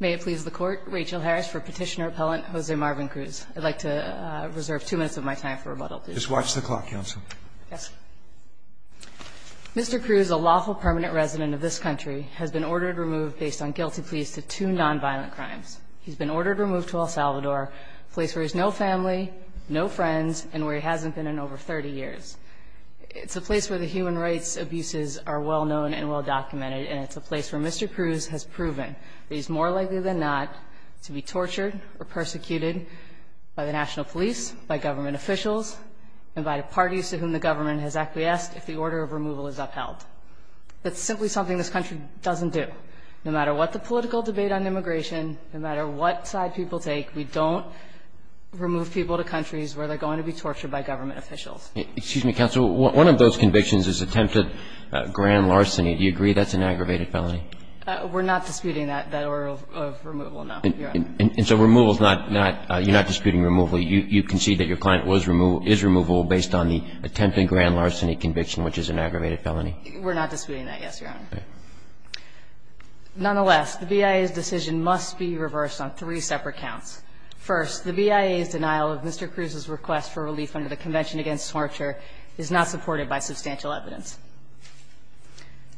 May it please the Court, Rachel Harris for Petitioner Appellant Jose Marvin Cruz. I'd like to reserve two minutes of my time for rebuttal, please. Just watch the clock, Counsel. Yes. Mr. Cruz, a lawful permanent resident of this country, has been ordered removed based on guilty pleas to two nonviolent crimes. He's been ordered removed to El Salvador, a place where he has no family, no friends, and where he hasn't been in over 30 years. It's a place where the human rights abuses are well known and well documented, and it's a place where Mr. Cruz has proven that he's more likely than not to be tortured or persecuted by the national police, by government officials, and by the parties to whom the government has acquiesced if the order of removal is upheld. That's simply something this country doesn't do. No matter what the political debate on immigration, no matter what side people take, we don't remove people to countries where they're going to be tortured by government officials. Excuse me, Counsel. One of those convictions is attempted grand larceny. Do you agree that's an aggravated felony? We're not disputing that order of removal, no, Your Honor. And so removal is not – you're not disputing removal. You concede that your client was – is removable based on the attempted grand larceny conviction, which is an aggravated felony? We're not disputing that, yes, Your Honor. Okay. Nonetheless, the BIA's decision must be reversed on three separate counts. First, the BIA's denial of Mr. Cruz's request for relief under the Convention Against Torture is not supported by substantial evidence.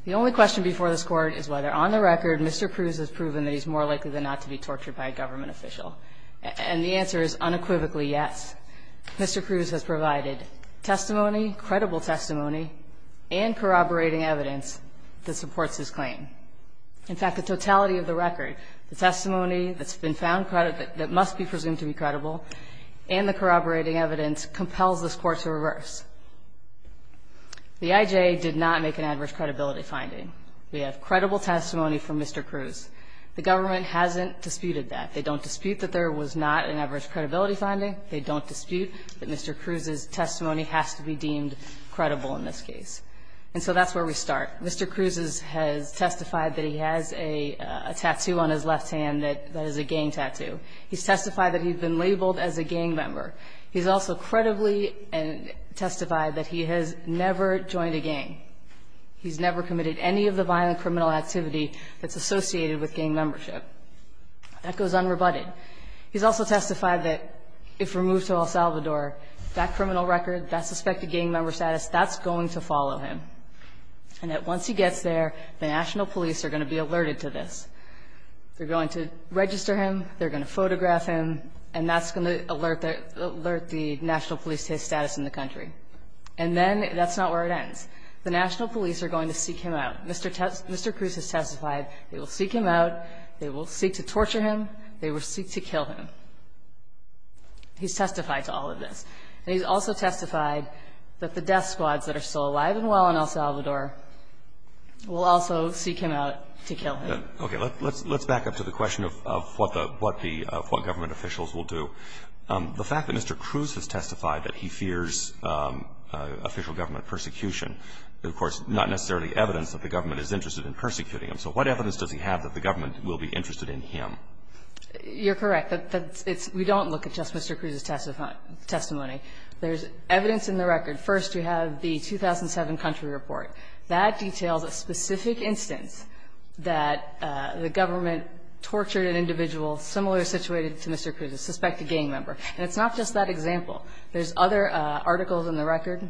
The only question before this Court is whether, on the record, Mr. Cruz has proven that he's more likely than not to be tortured by a government official. And the answer is unequivocally yes. Mr. Cruz has provided testimony, credible testimony, and corroborating evidence that supports his claim. In fact, the totality of the record, the testimony that's been found, that must be presumed to be credible, and the corroborating evidence compels this Court to reverse. The IJ did not make an adverse credibility finding. We have credible testimony from Mr. Cruz. The government hasn't disputed that. They don't dispute that there was not an adverse credibility finding. They don't dispute that Mr. Cruz's testimony has to be deemed credible in this case. And so that's where we start. Mr. Cruz has testified that he has a tattoo on his left hand that is a gang tattoo. He's testified that he's been labeled as a gang member. He's also credibly testified that he has never joined a gang. He's never committed any of the violent criminal activity that's associated with gang membership. That goes unrebutted. He's also testified that if removed to El Salvador, that criminal record, that suspected gang member status, that's going to follow him. And that once he gets there, the national police are going to be alerted to this. They're going to register him, they're going to photograph him, and that's going to alert the national police to his status in the country. And then that's not where it ends. The national police are going to seek him out. Mr. Cruz has testified they will seek him out, they will seek to torture him, they will seek to kill him. He's testified to all of this. And he's also testified that the death squads that are still alive and well in El Salvador will also seek him out to kill him. Roberts. Okay. Let's back up to the question of what the government officials will do. The fact that Mr. Cruz has testified that he fears official government persecution is, of course, not necessarily evidence that the government is interested in persecuting him. So what evidence does he have that the government will be interested in him? You're correct. We don't look at just Mr. Cruz's testimony. There's evidence in the record. First, we have the 2007 country report. That details a specific instance that the government tortured an individual similar situated to Mr. Cruz, a suspected gang member. And it's not just that example. There's other articles in the record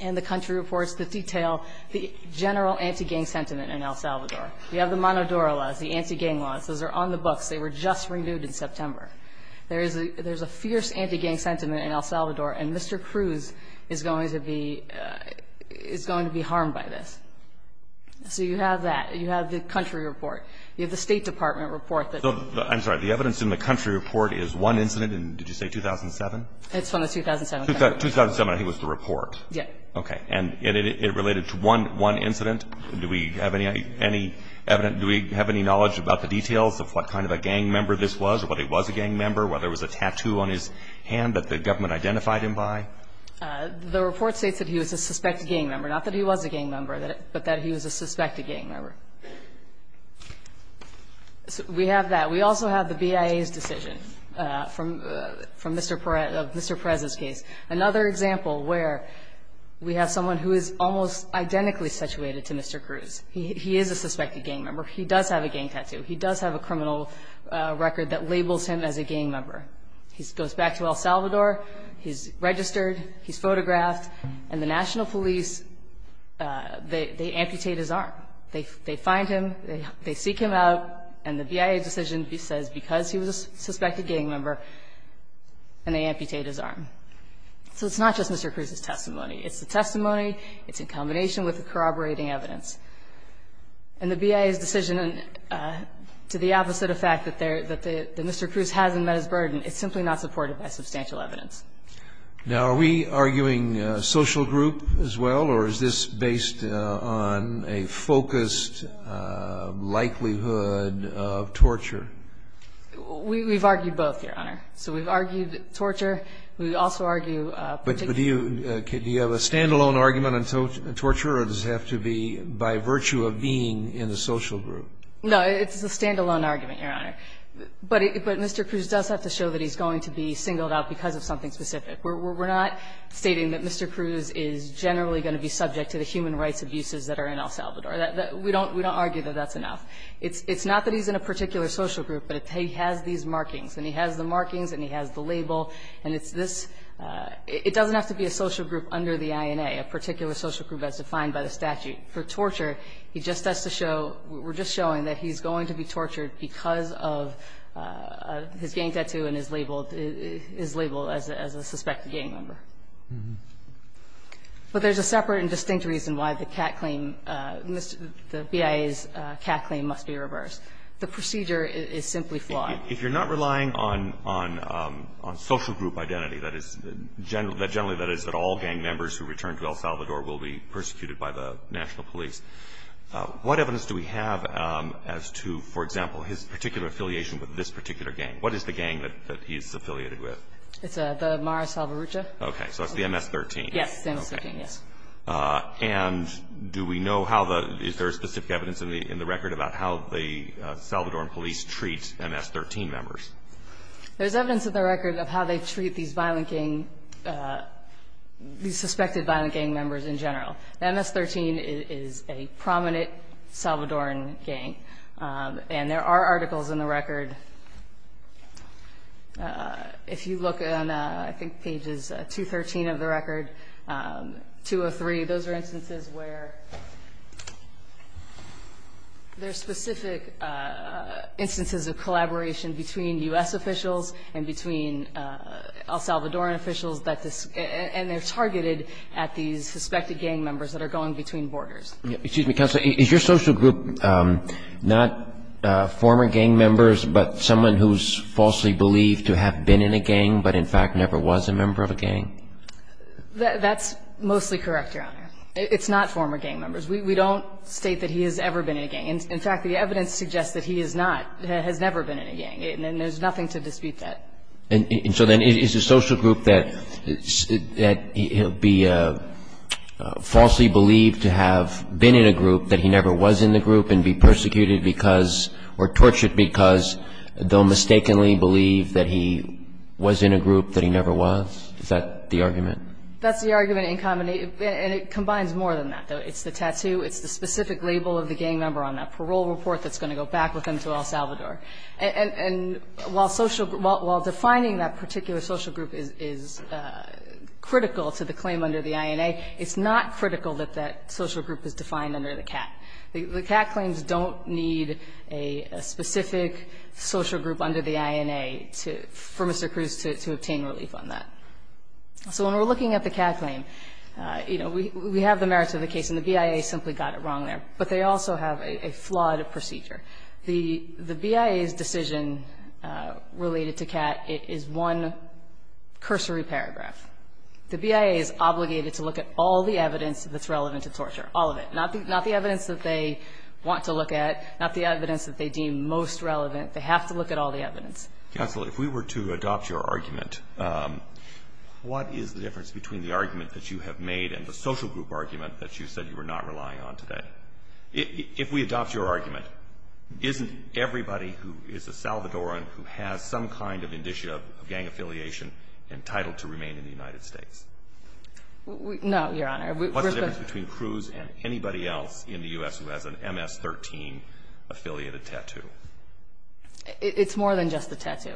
and the country reports that detail the general anti-gang sentiment in El Salvador. We have the Monodora laws, the anti-gang laws. Those are on the books. They were just renewed in September. There is a fierce anti-gang sentiment in El Salvador, and Mr. Cruz is going to be harmed by this. So you have that. You have the country report. You have the State Department report. I'm sorry. The evidence in the country report is one incident in, did you say 2007? It's from the 2007. 2007, I think, was the report. Yes. Okay. And it related to one incident. Do we have any knowledge about the details of what kind of a gang member this was or what he was a gang member, whether it was a tattoo on his hand that the government identified him by? The report states that he was a suspected gang member, not that he was a gang member, but that he was a suspected gang member. We have that. We also have the BIA's decision from Mr. Perez's case. Another example where we have someone who is almost identically situated to Mr. Cruz. He is a suspected gang member. He does have a gang tattoo. He does have a criminal record that labels him as a gang member. He goes back to El Salvador. He's registered. He's photographed. And the national police, they amputate his arm. They find him. They seek him out. And the BIA decision says because he was a suspected gang member, and they amputate his arm. So it's not just Mr. Cruz's testimony. It's the testimony. It's in combination with the corroborating evidence. And the BIA's decision, to the opposite effect that Mr. Cruz hasn't met his burden, it's simply not supported by substantial evidence. Now, are we arguing social group as well, or is this based on a focused likelihood of torture? We've argued both, Your Honor. So we've argued torture. We also argue particular. But do you have a stand-alone argument on torture, or does it have to be by virtue of being in the social group? No, it's a stand-alone argument, Your Honor. But Mr. Cruz does have to show that he's going to be singled out because of something specific. We're not stating that Mr. Cruz is generally going to be subject to the human rights abuses that are in El Salvador. We don't argue that that's enough. It's not that he's in a particular social group, but he has these markings. And he has the markings and he has the label. And it's this – it doesn't have to be a social group under the INA, a particular social group as defined by the statute. For torture, he just has to show – we're just showing that he's going to be tortured because of his gang tattoo and his label – his label as a suspected gang member. But there's a separate and distinct reason why the CAT claim – the BIA's CAT claim must be reversed. The procedure is simply flawed. If you're not relying on social group identity, that is – generally, that is, that all gang members who return to El Salvador will be persecuted by the national police, What evidence do we have as to, for example, his particular affiliation with this particular gang? What is the gang that he is affiliated with? It's the Mara Salvarucha. Okay. So it's the MS-13. Yes, MS-13, yes. And do we know how the – is there specific evidence in the record about how the Salvadoran police treat MS-13 members? There's evidence in the record of how they treat these violent gang – these suspected violent gang members in general. MS-13 is a prominent Salvadoran gang, and there are articles in the record. If you look on, I think, pages 213 of the record, 203, those are instances where there's specific instances of collaboration between U.S. officials and between El Salvadoran officials that – and they're targeted at these suspected gang members that are going between borders. Excuse me, Counselor. Is your social group not former gang members but someone who's falsely believed to have been in a gang but, in fact, never was a member of a gang? That's mostly correct, Your Honor. It's not former gang members. We don't state that he has ever been in a gang. In fact, the evidence suggests that he is not – has never been in a gang, and there's nothing to dispute that. And so then is the social group that he'll be falsely believed to have been in a group that he never was in the group and be persecuted because – or tortured because they'll mistakenly believe that he was in a group that he never was? Is that the argument? That's the argument, and it combines more than that, though. It's the tattoo. It's the specific label of the gang member on that parole report that's going to go back with him to El Salvador. And while social – while defining that particular social group is critical to the claim under the INA, it's not critical that that social group is defined under the CAT. The CAT claims don't need a specific social group under the INA for Mr. Cruz to obtain relief on that. So when we're looking at the CAT claim, you know, we have the merits of the case, and the BIA simply got it wrong there. But they also have a flawed procedure. The BIA's decision related to CAT is one cursory paragraph. The BIA is obligated to look at all the evidence that's relevant to torture, all of it, not the evidence that they want to look at, not the evidence that they deem most relevant. They have to look at all the evidence. Counsel, if we were to adopt your argument, what is the difference between the argument that you have made and the social group argument that you said you were not relying on today? If we adopt your argument, isn't everybody who is a Salvadoran who has some kind of indicia of gang affiliation entitled to remain in the United States? No, Your Honor. What's the difference between Cruz and anybody else in the U.S. who has an MS-13 affiliated tattoo? It's more than just the tattoo.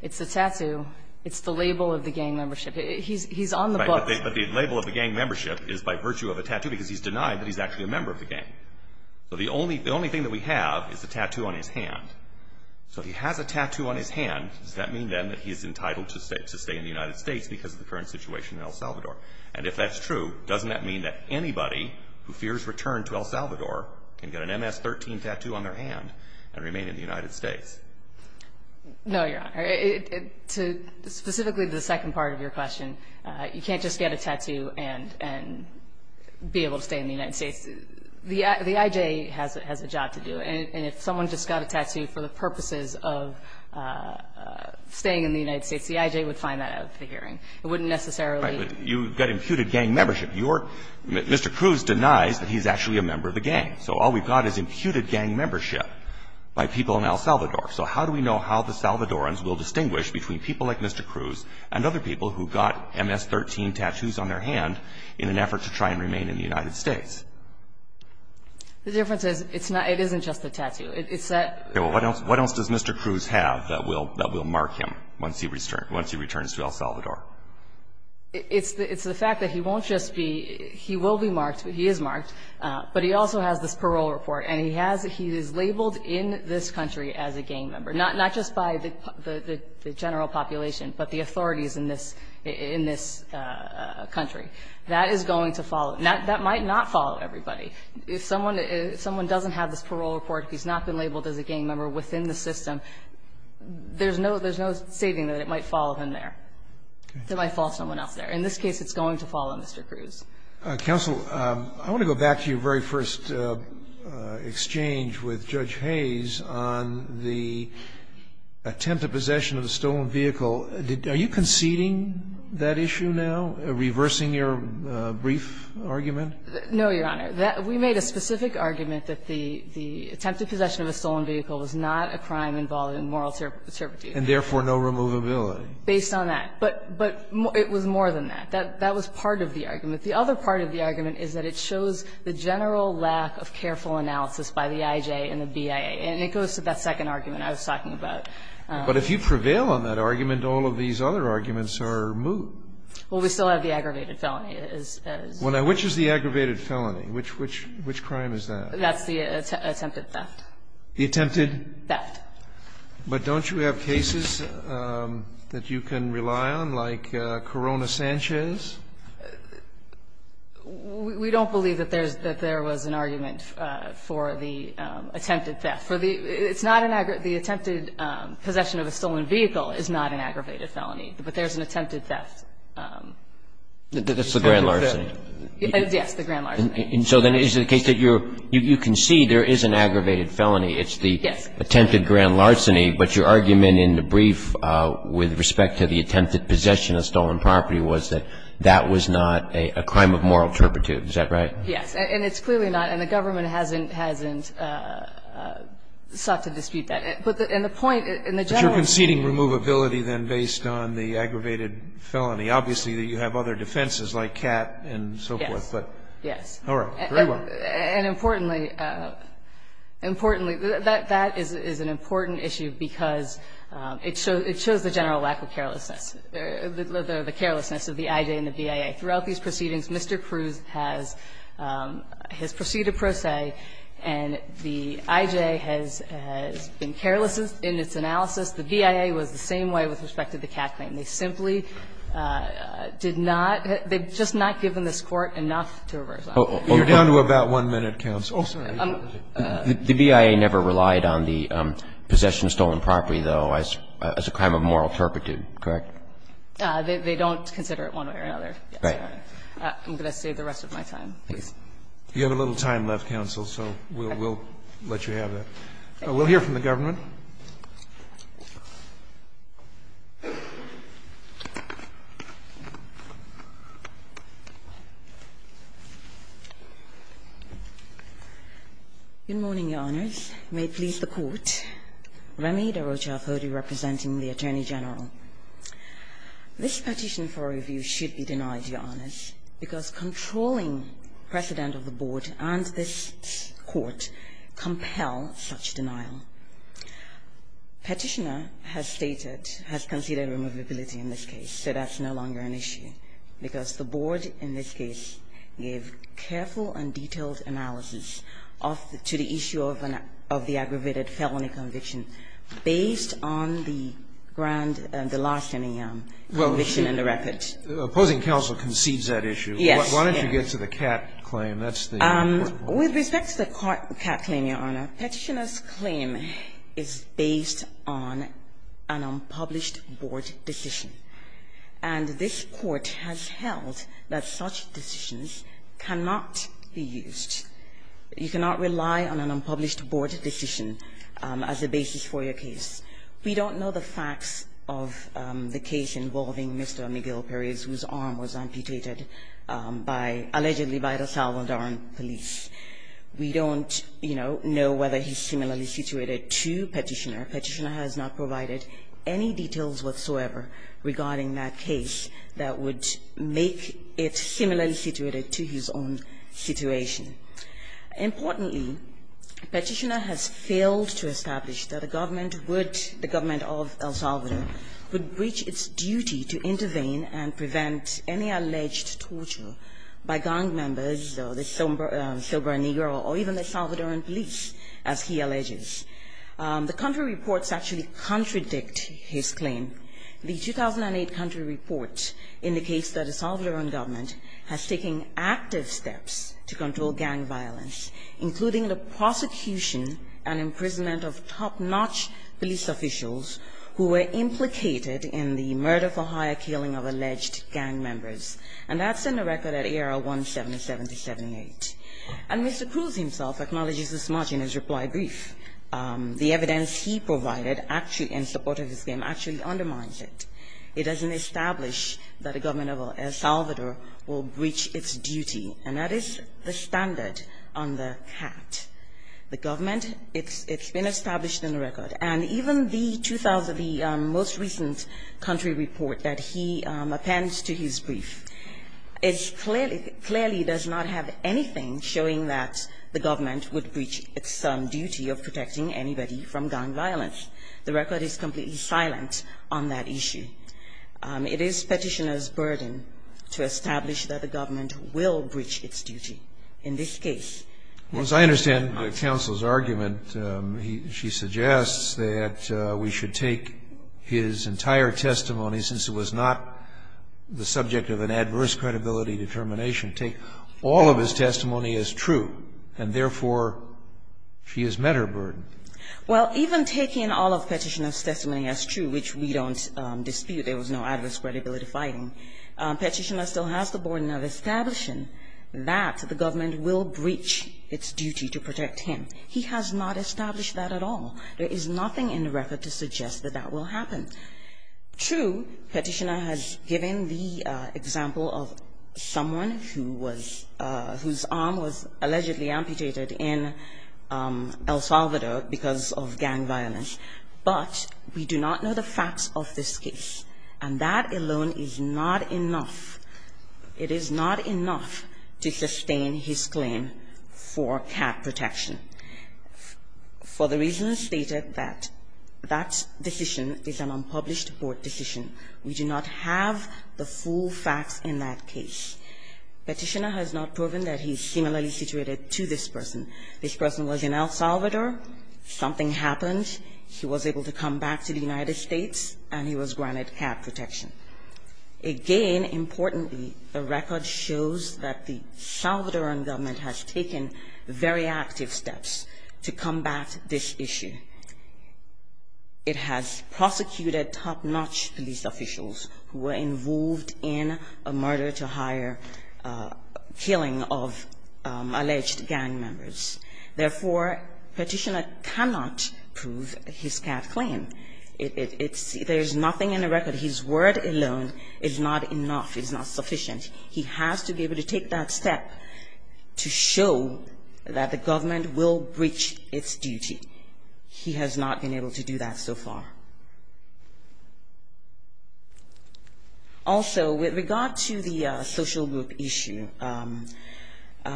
It's the tattoo. It's the label of the gang membership. He's on the book. Right. But the label of the gang membership is by virtue of a tattoo because he's denied that he's actually a member of the gang. So the only thing that we have is a tattoo on his hand. So if he has a tattoo on his hand, does that mean then that he is entitled to stay in the United States because of the current situation in El Salvador? And if that's true, doesn't that mean that anybody who fears return to El Salvador can get an MS-13 tattoo on their hand and remain in the United States? No, Your Honor. Specifically to the second part of your question, you can't just get a tattoo and be able to stay in the United States. The I.J. has a job to do. And if someone just got a tattoo for the purposes of staying in the United States, the I.J. would find that out at the hearing. It wouldn't necessarily. Right. But you've got imputed gang membership. Mr. Cruz denies that he's actually a member of the gang. So all we've got is imputed gang membership by people in El Salvador. So how do we know how the Salvadorans will distinguish between people like Mr. Cruz who has a tattoo on their hand in an effort to try and remain in the United States? The difference is it isn't just a tattoo. What else does Mr. Cruz have that will mark him once he returns to El Salvador? It's the fact that he won't just be he will be marked, he is marked, but he also has this parole report. And he is labeled in this country as a gang member, not just by the general population, but the authorities in this country. That is going to follow. That might not follow everybody. If someone doesn't have this parole report, if he's not been labeled as a gang member within the system, there's no stating that it might follow him there. It might follow someone else there. In this case, it's going to follow Mr. Cruz. Counsel, I want to go back to your very first exchange with Judge Hayes on the attempted possession of a stolen vehicle. Are you conceding that issue now, reversing your brief argument? No, Your Honor. We made a specific argument that the attempted possession of a stolen vehicle was not a crime involved in moral turpitude. And therefore, no removability. Based on that. But it was more than that. That was part of the argument. The other part of the argument is that it shows the general lack of careful analysis by the IJ and the BIA, and it goes to that second argument I was talking about. But if you prevail on that argument, all of these other arguments are moot. Well, we still have the aggravated felony. Which is the aggravated felony? Which crime is that? That's the attempted theft. The attempted? Theft. But don't you have cases that you can rely on, like Corona-Sanchez? We don't believe that there was an argument for the attempted theft. The attempted possession of a stolen vehicle is not an aggravated felony. But there's an attempted theft. That's the grand larceny. Yes, the grand larceny. And so then is it the case that you're – you can see there is an aggravated felony. It's the attempted grand larceny. But your argument in the brief with respect to the attempted possession of stolen property was that that was not a crime of moral turpitude. Is that right? And it's clearly not. And the government hasn't – hasn't sought to dispute that. But the – and the point in the general – But you're conceding removability then based on the aggravated felony. Obviously, you have other defenses like CAT and so forth. Yes. Yes. All right. Very well. And importantly – importantly, that is an important issue because it shows the general lack of carelessness, the carelessness of the IJ and the BIA. Throughout these proceedings, Mr. Cruz has – has proceeded pro se and the IJ has been careless in its analysis. The BIA was the same way with respect to the CAT claim. They simply did not – they've just not given this Court enough to reverse that. You're down to about one minute, counsel. Oh, sorry. The BIA never relied on the possession of stolen property, though, as a crime of moral turpitude, correct? They don't consider it one way or another. Right. I'm going to save the rest of my time, please. You have a little time left, counsel, so we'll – we'll let you have that. We'll hear from the government. Good morning, Your Honors. May it please the Court. Rami Daroja of Hody representing the Attorney General. This petition for review should be denied, Your Honors, because controlling precedent of the Board and this Court compel such denial. Petitioner has stated – has considered removability in this case, so that's no longer an issue, because the Board in this case gave careful and detailed analysis to the issue of an – of the aggravated felony conviction based on the grand – the larceny conviction in the record. The opposing counsel concedes that issue. Yes. Why don't you get to the Catt claim? That's the important one. With respect to the Catt claim, Your Honor, Petitioner's claim is based on an unpublished Board decision, and this Court has held that such decisions cannot be used. You cannot rely on an unpublished Board decision as a basis for your case. We don't know the facts of the case involving Mr. Miguel Perez, whose arm was amputated by – allegedly by the Salvadoran police. We don't, you know, know whether he's similarly situated to Petitioner. Petitioner has not provided any details whatsoever regarding that case that would make it similarly situated to his own situation. Importantly, Petitioner has failed to establish that the government would – the government of El Salvador would breach its duty to intervene and prevent any alleged torture by gang members or the sober – sober negro or even the Salvadoran police, as he alleges. The country reports actually contradict his claim. The 2008 country report indicates that the Salvadoran government has taken active steps to control gang violence, including the prosecution and imprisonment of top-notch police officials who were implicated in the murder-for-hire killing of alleged gang members. And that's in the record at A.R. 1777-78. And Mr. Cruz himself acknowledges this much in his reply brief. The evidence he provided actually in support of his claim actually undermines it. It doesn't establish that a government of El Salvador will breach its duty. And that is the standard on the cat. The government, it's been established in the record. And even the 2000, the most recent country report that he appends to his brief, it's clearly – clearly does not have anything showing that the government would breach its duty of protecting anybody from gang violence. The record is completely silent on that issue. It is Petitioner's burden to establish that the government will breach its duty in this case. Yes. Scalia. Well, as I understand the counsel's argument, she suggests that we should take his entire testimony, since it was not the subject of an adverse credibility determination, take all of his testimony as true. And therefore, she has met her burden. Well, even taking all of Petitioner's testimony as true, which we don't dispute there was no adverse credibility finding, Petitioner still has the burden of establishing that the government will breach its duty to protect him. He has not established that at all. There is nothing in the record to suggest that that will happen. True, Petitioner has given the example of someone who was – whose arm was allegedly amputated in El Salvador because of gang violence, but we do not know the facts of this case. And that alone is not enough. It is not enough to sustain his claim for cat protection for the reasons stated that that decision is an unpublished court decision. We do not have the full facts in that case. Petitioner has not proven that he is similarly situated to this person. This person was in El Salvador, something happened, he was able to come back to the United States, and he was granted cat protection. Again, importantly, the record shows that the Salvadoran government has taken very active steps to combat this issue. It has prosecuted top-notch police officials who were involved in a murder-to-hire killing of alleged gang members. Therefore, Petitioner cannot prove his cat claim. It's – there is nothing in the record. His word alone is not enough. It is not sufficient. He has to be able to take that step to show that the government will breach its duty. He has not been able to do that so far. Also, with regard to the social group issue,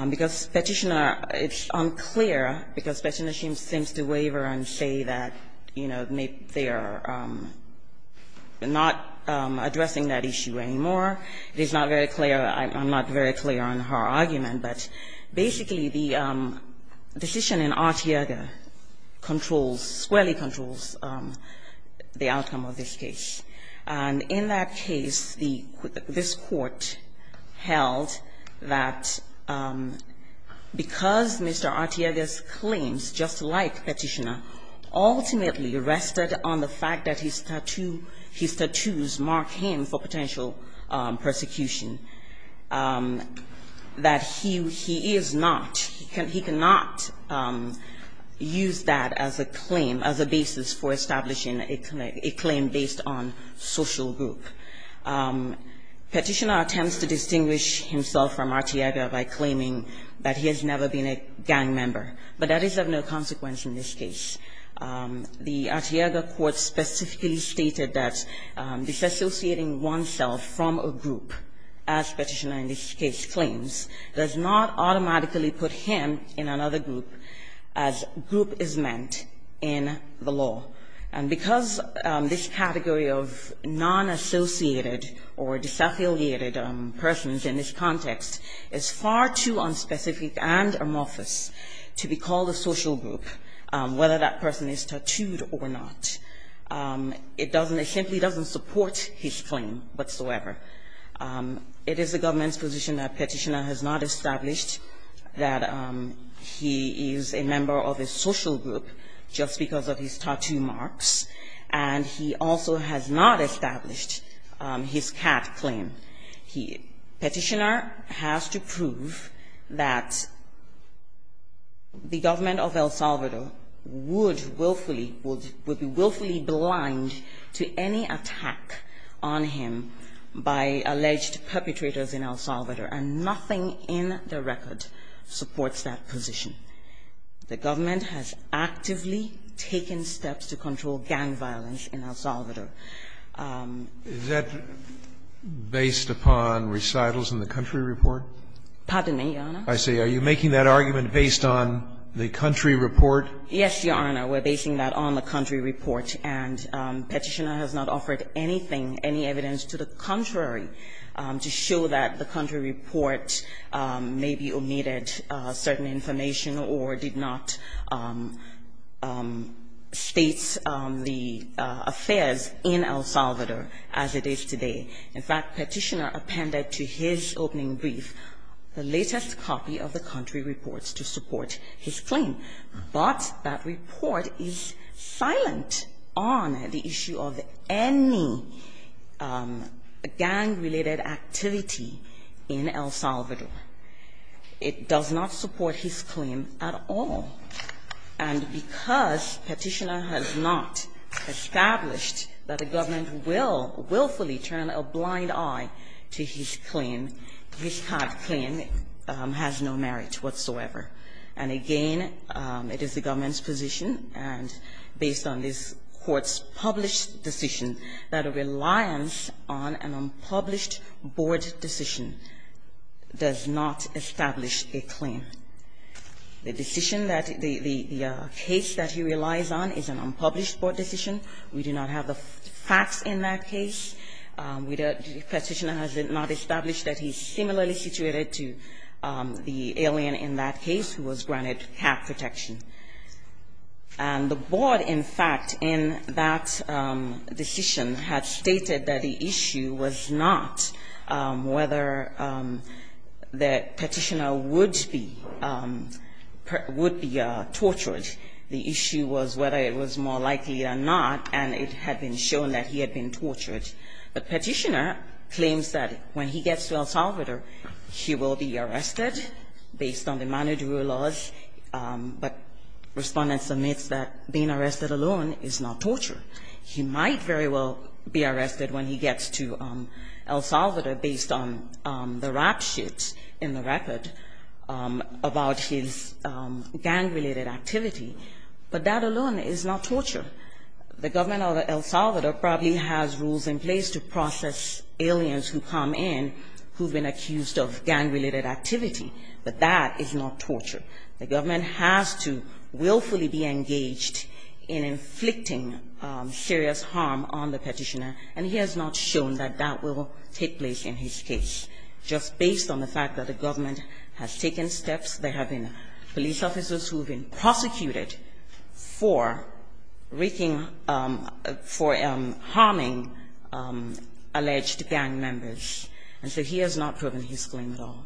because Petitioner – it's unclear because Petitioner seems to waver and say that, you know, they are not addressing that issue anymore. It is not very clear. I'm not very clear on her argument. But basically, the decision in Artiega controls – squarely controls the outcome of this case. And in that case, the – this Court held that because Mr. Artiega's claims, just like Petitioner, ultimately rested on the fact that his tattoo – his tattoos mark him for potential persecution, that he is not – he cannot use that as a claim, as a basis for establishing a claim based on social group. Petitioner attempts to distinguish himself from Artiega by claiming that he has never been a gang member. But that is of no consequence in this case. The Artiega Court specifically stated that disassociating oneself from a group, as Petitioner in this case claims, does not automatically put him in another group as group is meant in the law. And because this category of non-associated or disaffiliated persons in this context is far too unspecific and amorphous to be called a social group, whether that person is tattooed or not, it doesn't – it simply doesn't support his claim whatsoever. It is the government's position that Petitioner has not established that he is a member of a social group just because of his tattoo marks. And he also has not established his cat claim. He – Petitioner has to prove that the government of El Salvador would willfully – would be willfully blind to any attack on him by alleged perpetrators in El Salvador, and nothing in the record supports that position. The government has actively taken steps to control gang violence in El Salvador. Is that based upon recitals in the country report? Pardon me, Your Honor. I see. Are you making that argument based on the country report? Yes, Your Honor. We're basing that on the country report. And Petitioner has not offered anything, any evidence to the contrary to show that the country report maybe omitted certain information or did not state the affairs in El Salvador as it is today. In fact, Petitioner appended to his opening brief the latest copy of the country report to support his claim. But that report is silent on the issue of any gang-related activity in El Salvador. It does not support his claim at all. And because Petitioner has not established that the government will willfully turn a blind eye to his claim, his type of claim has no merit whatsoever. And again, it is the government's position, and based on this Court's published decision, that a reliance on an unpublished board decision does not establish a claim. The decision that the case that he relies on is an unpublished board decision. We do not have the facts in that case. Petitioner has not established that he's similarly situated to the alien in that case who was granted cap protection. And the board, in fact, in that decision had stated that the issue was not whether that Petitioner would be tortured. The issue was whether it was more likely or not, and it had been shown that he had been tortured. But Petitioner claims that when he gets to El Salvador, he will be arrested based on the Manu Duru laws. But Respondent submits that being arrested alone is not torture. He might very well be arrested when he gets to El Salvador based on the rap shoots in the record about his gang-related activity. But that alone is not torture. The government of El Salvador probably has rules in place to process aliens who come in who have been accused of gang-related activity, but that is not torture. The government has to willfully be engaged in inflicting serious harm on the Petitioner, and he has not shown that that will take place in his case. Just based on the fact that the government has taken steps, there have been police officers who have been prosecuted for wreaking – for harming alleged gang members. And so he has not proven his claim at all.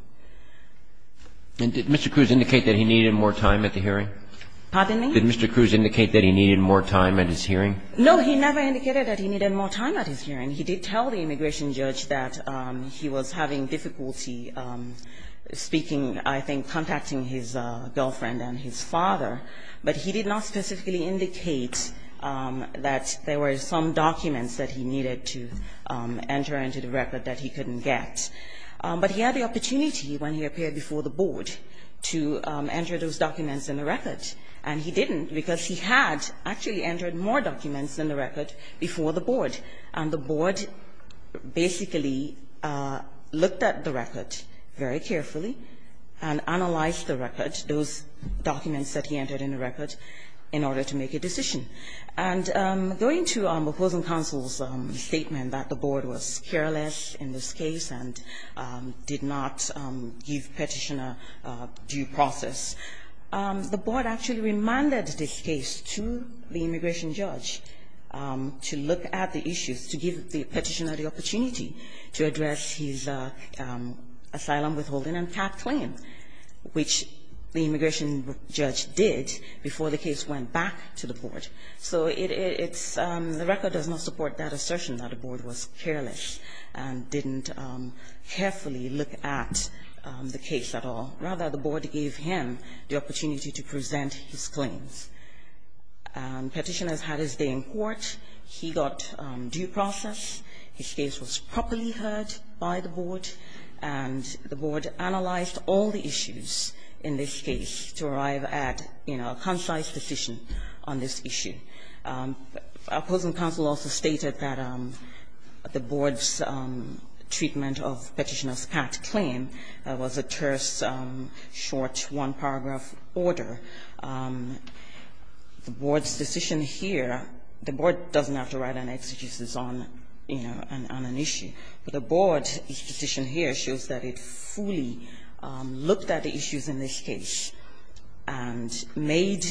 And did Mr. Cruz indicate that he needed more time at the hearing? Pardon me? Did Mr. Cruz indicate that he needed more time at his hearing? No, he never indicated that he needed more time at his hearing. He did tell the immigration judge that he was having difficulty speaking, I think, contacting his girlfriend and his father. But he did not specifically indicate that there were some documents that he needed to enter into the record that he couldn't get. But he had the opportunity when he appeared before the board to enter those documents in the record, and he didn't because he had actually entered more documents in the record before the board. And the board basically looked at the record very carefully and analyzed the record, those documents that he entered in the record, in order to make a decision. And going to opposing counsel's statement that the board was careless in this case and did not give petitioner due process. The board actually reminded this case to the immigration judge to look at the issues, to give the petitioner the opportunity to address his asylum withholding and path claim, which the immigration judge did before the case went back to the board. So it's the record does not support that assertion that the board was careless and didn't carefully look at the case at all. Rather, the board gave him the opportunity to present his claims. Petitioners had his day in court. He got due process. His case was properly heard by the board, and the board analyzed all the issues in this case to arrive at, you know, a concise decision on this issue. Opposing counsel also stated that the board's treatment of petitioner's path claim was a terse, short one-paragraph order. The board's decision here, the board doesn't have to write an exegesis on, you know, on an issue. But the board's decision here shows that it fully looked at the issues in this case and made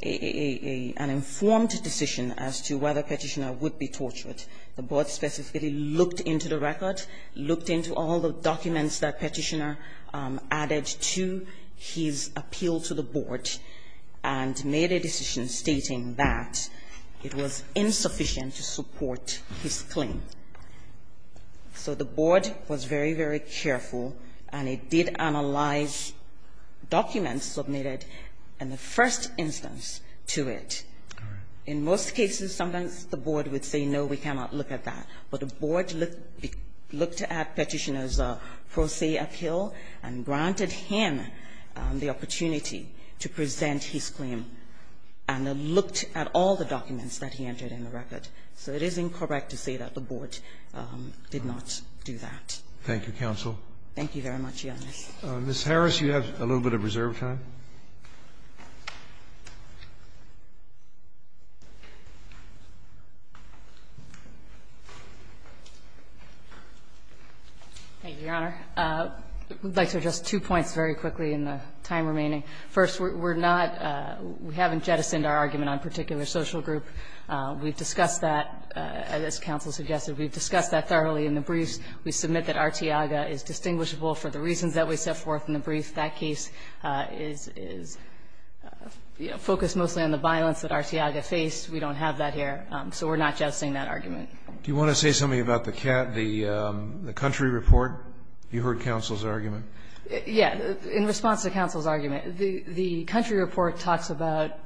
an informed decision as to whether petitioner would be tortured. The board specifically looked into the record, looked into all the documents that petitioner added to his appeal to the board, and made a decision stating that it was insufficient to support his claim. So the board was very, very careful, and it did analyze documents submitted in the first instance to it. In most cases, sometimes the board would say, no, we cannot look at that. But the board looked at Petitioner's pro se appeal and granted him the opportunity to present his claim. And it looked at all the documents that he entered in the record. So it is incorrect to say that the board did not do that. Thank you, counsel. Thank you very much, Your Honor. Ms. Harris, you have a little bit of reserve time. Thank you, Your Honor. I would like to address two points very quickly in the time remaining. First, we're not we haven't jettisoned our argument on particular social group. We've discussed that, as counsel suggested. We've discussed that thoroughly in the briefs. We submit that Arteaga is distinguishable for the reasons that we set forth in the brief. That case is focused mostly on the violence that Arteaga faced. We don't have that here. So we're not jettisoning that argument. Do you want to say something about the country report? You heard counsel's argument. Yes. In response to counsel's argument, the country report talks about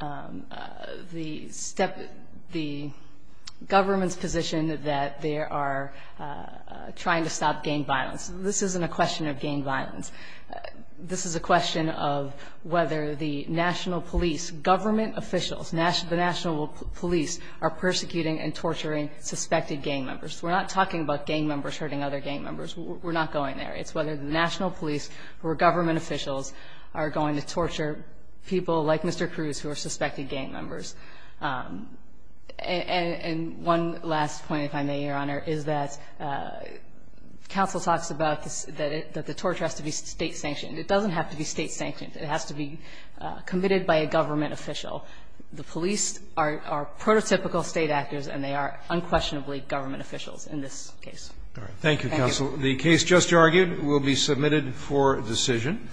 the government's position that they are trying to stop gang violence. This isn't a question of gang violence. This is a question of whether the national police, government officials, the national police are persecuting and torturing suspected gang members. We're not talking about gang members hurting other gang members. We're not going there. It's whether the national police or government officials are going to torture people like Mr. Cruz who are suspected gang members. And one last point, if I may, Your Honor, is that counsel talks about that the torture has to be State-sanctioned. It doesn't have to be State-sanctioned. It has to be committed by a government official. The police are prototypical State actors, and they are unquestionably government officials in this case. Thank you, counsel. The case just argued will be submitted for decision.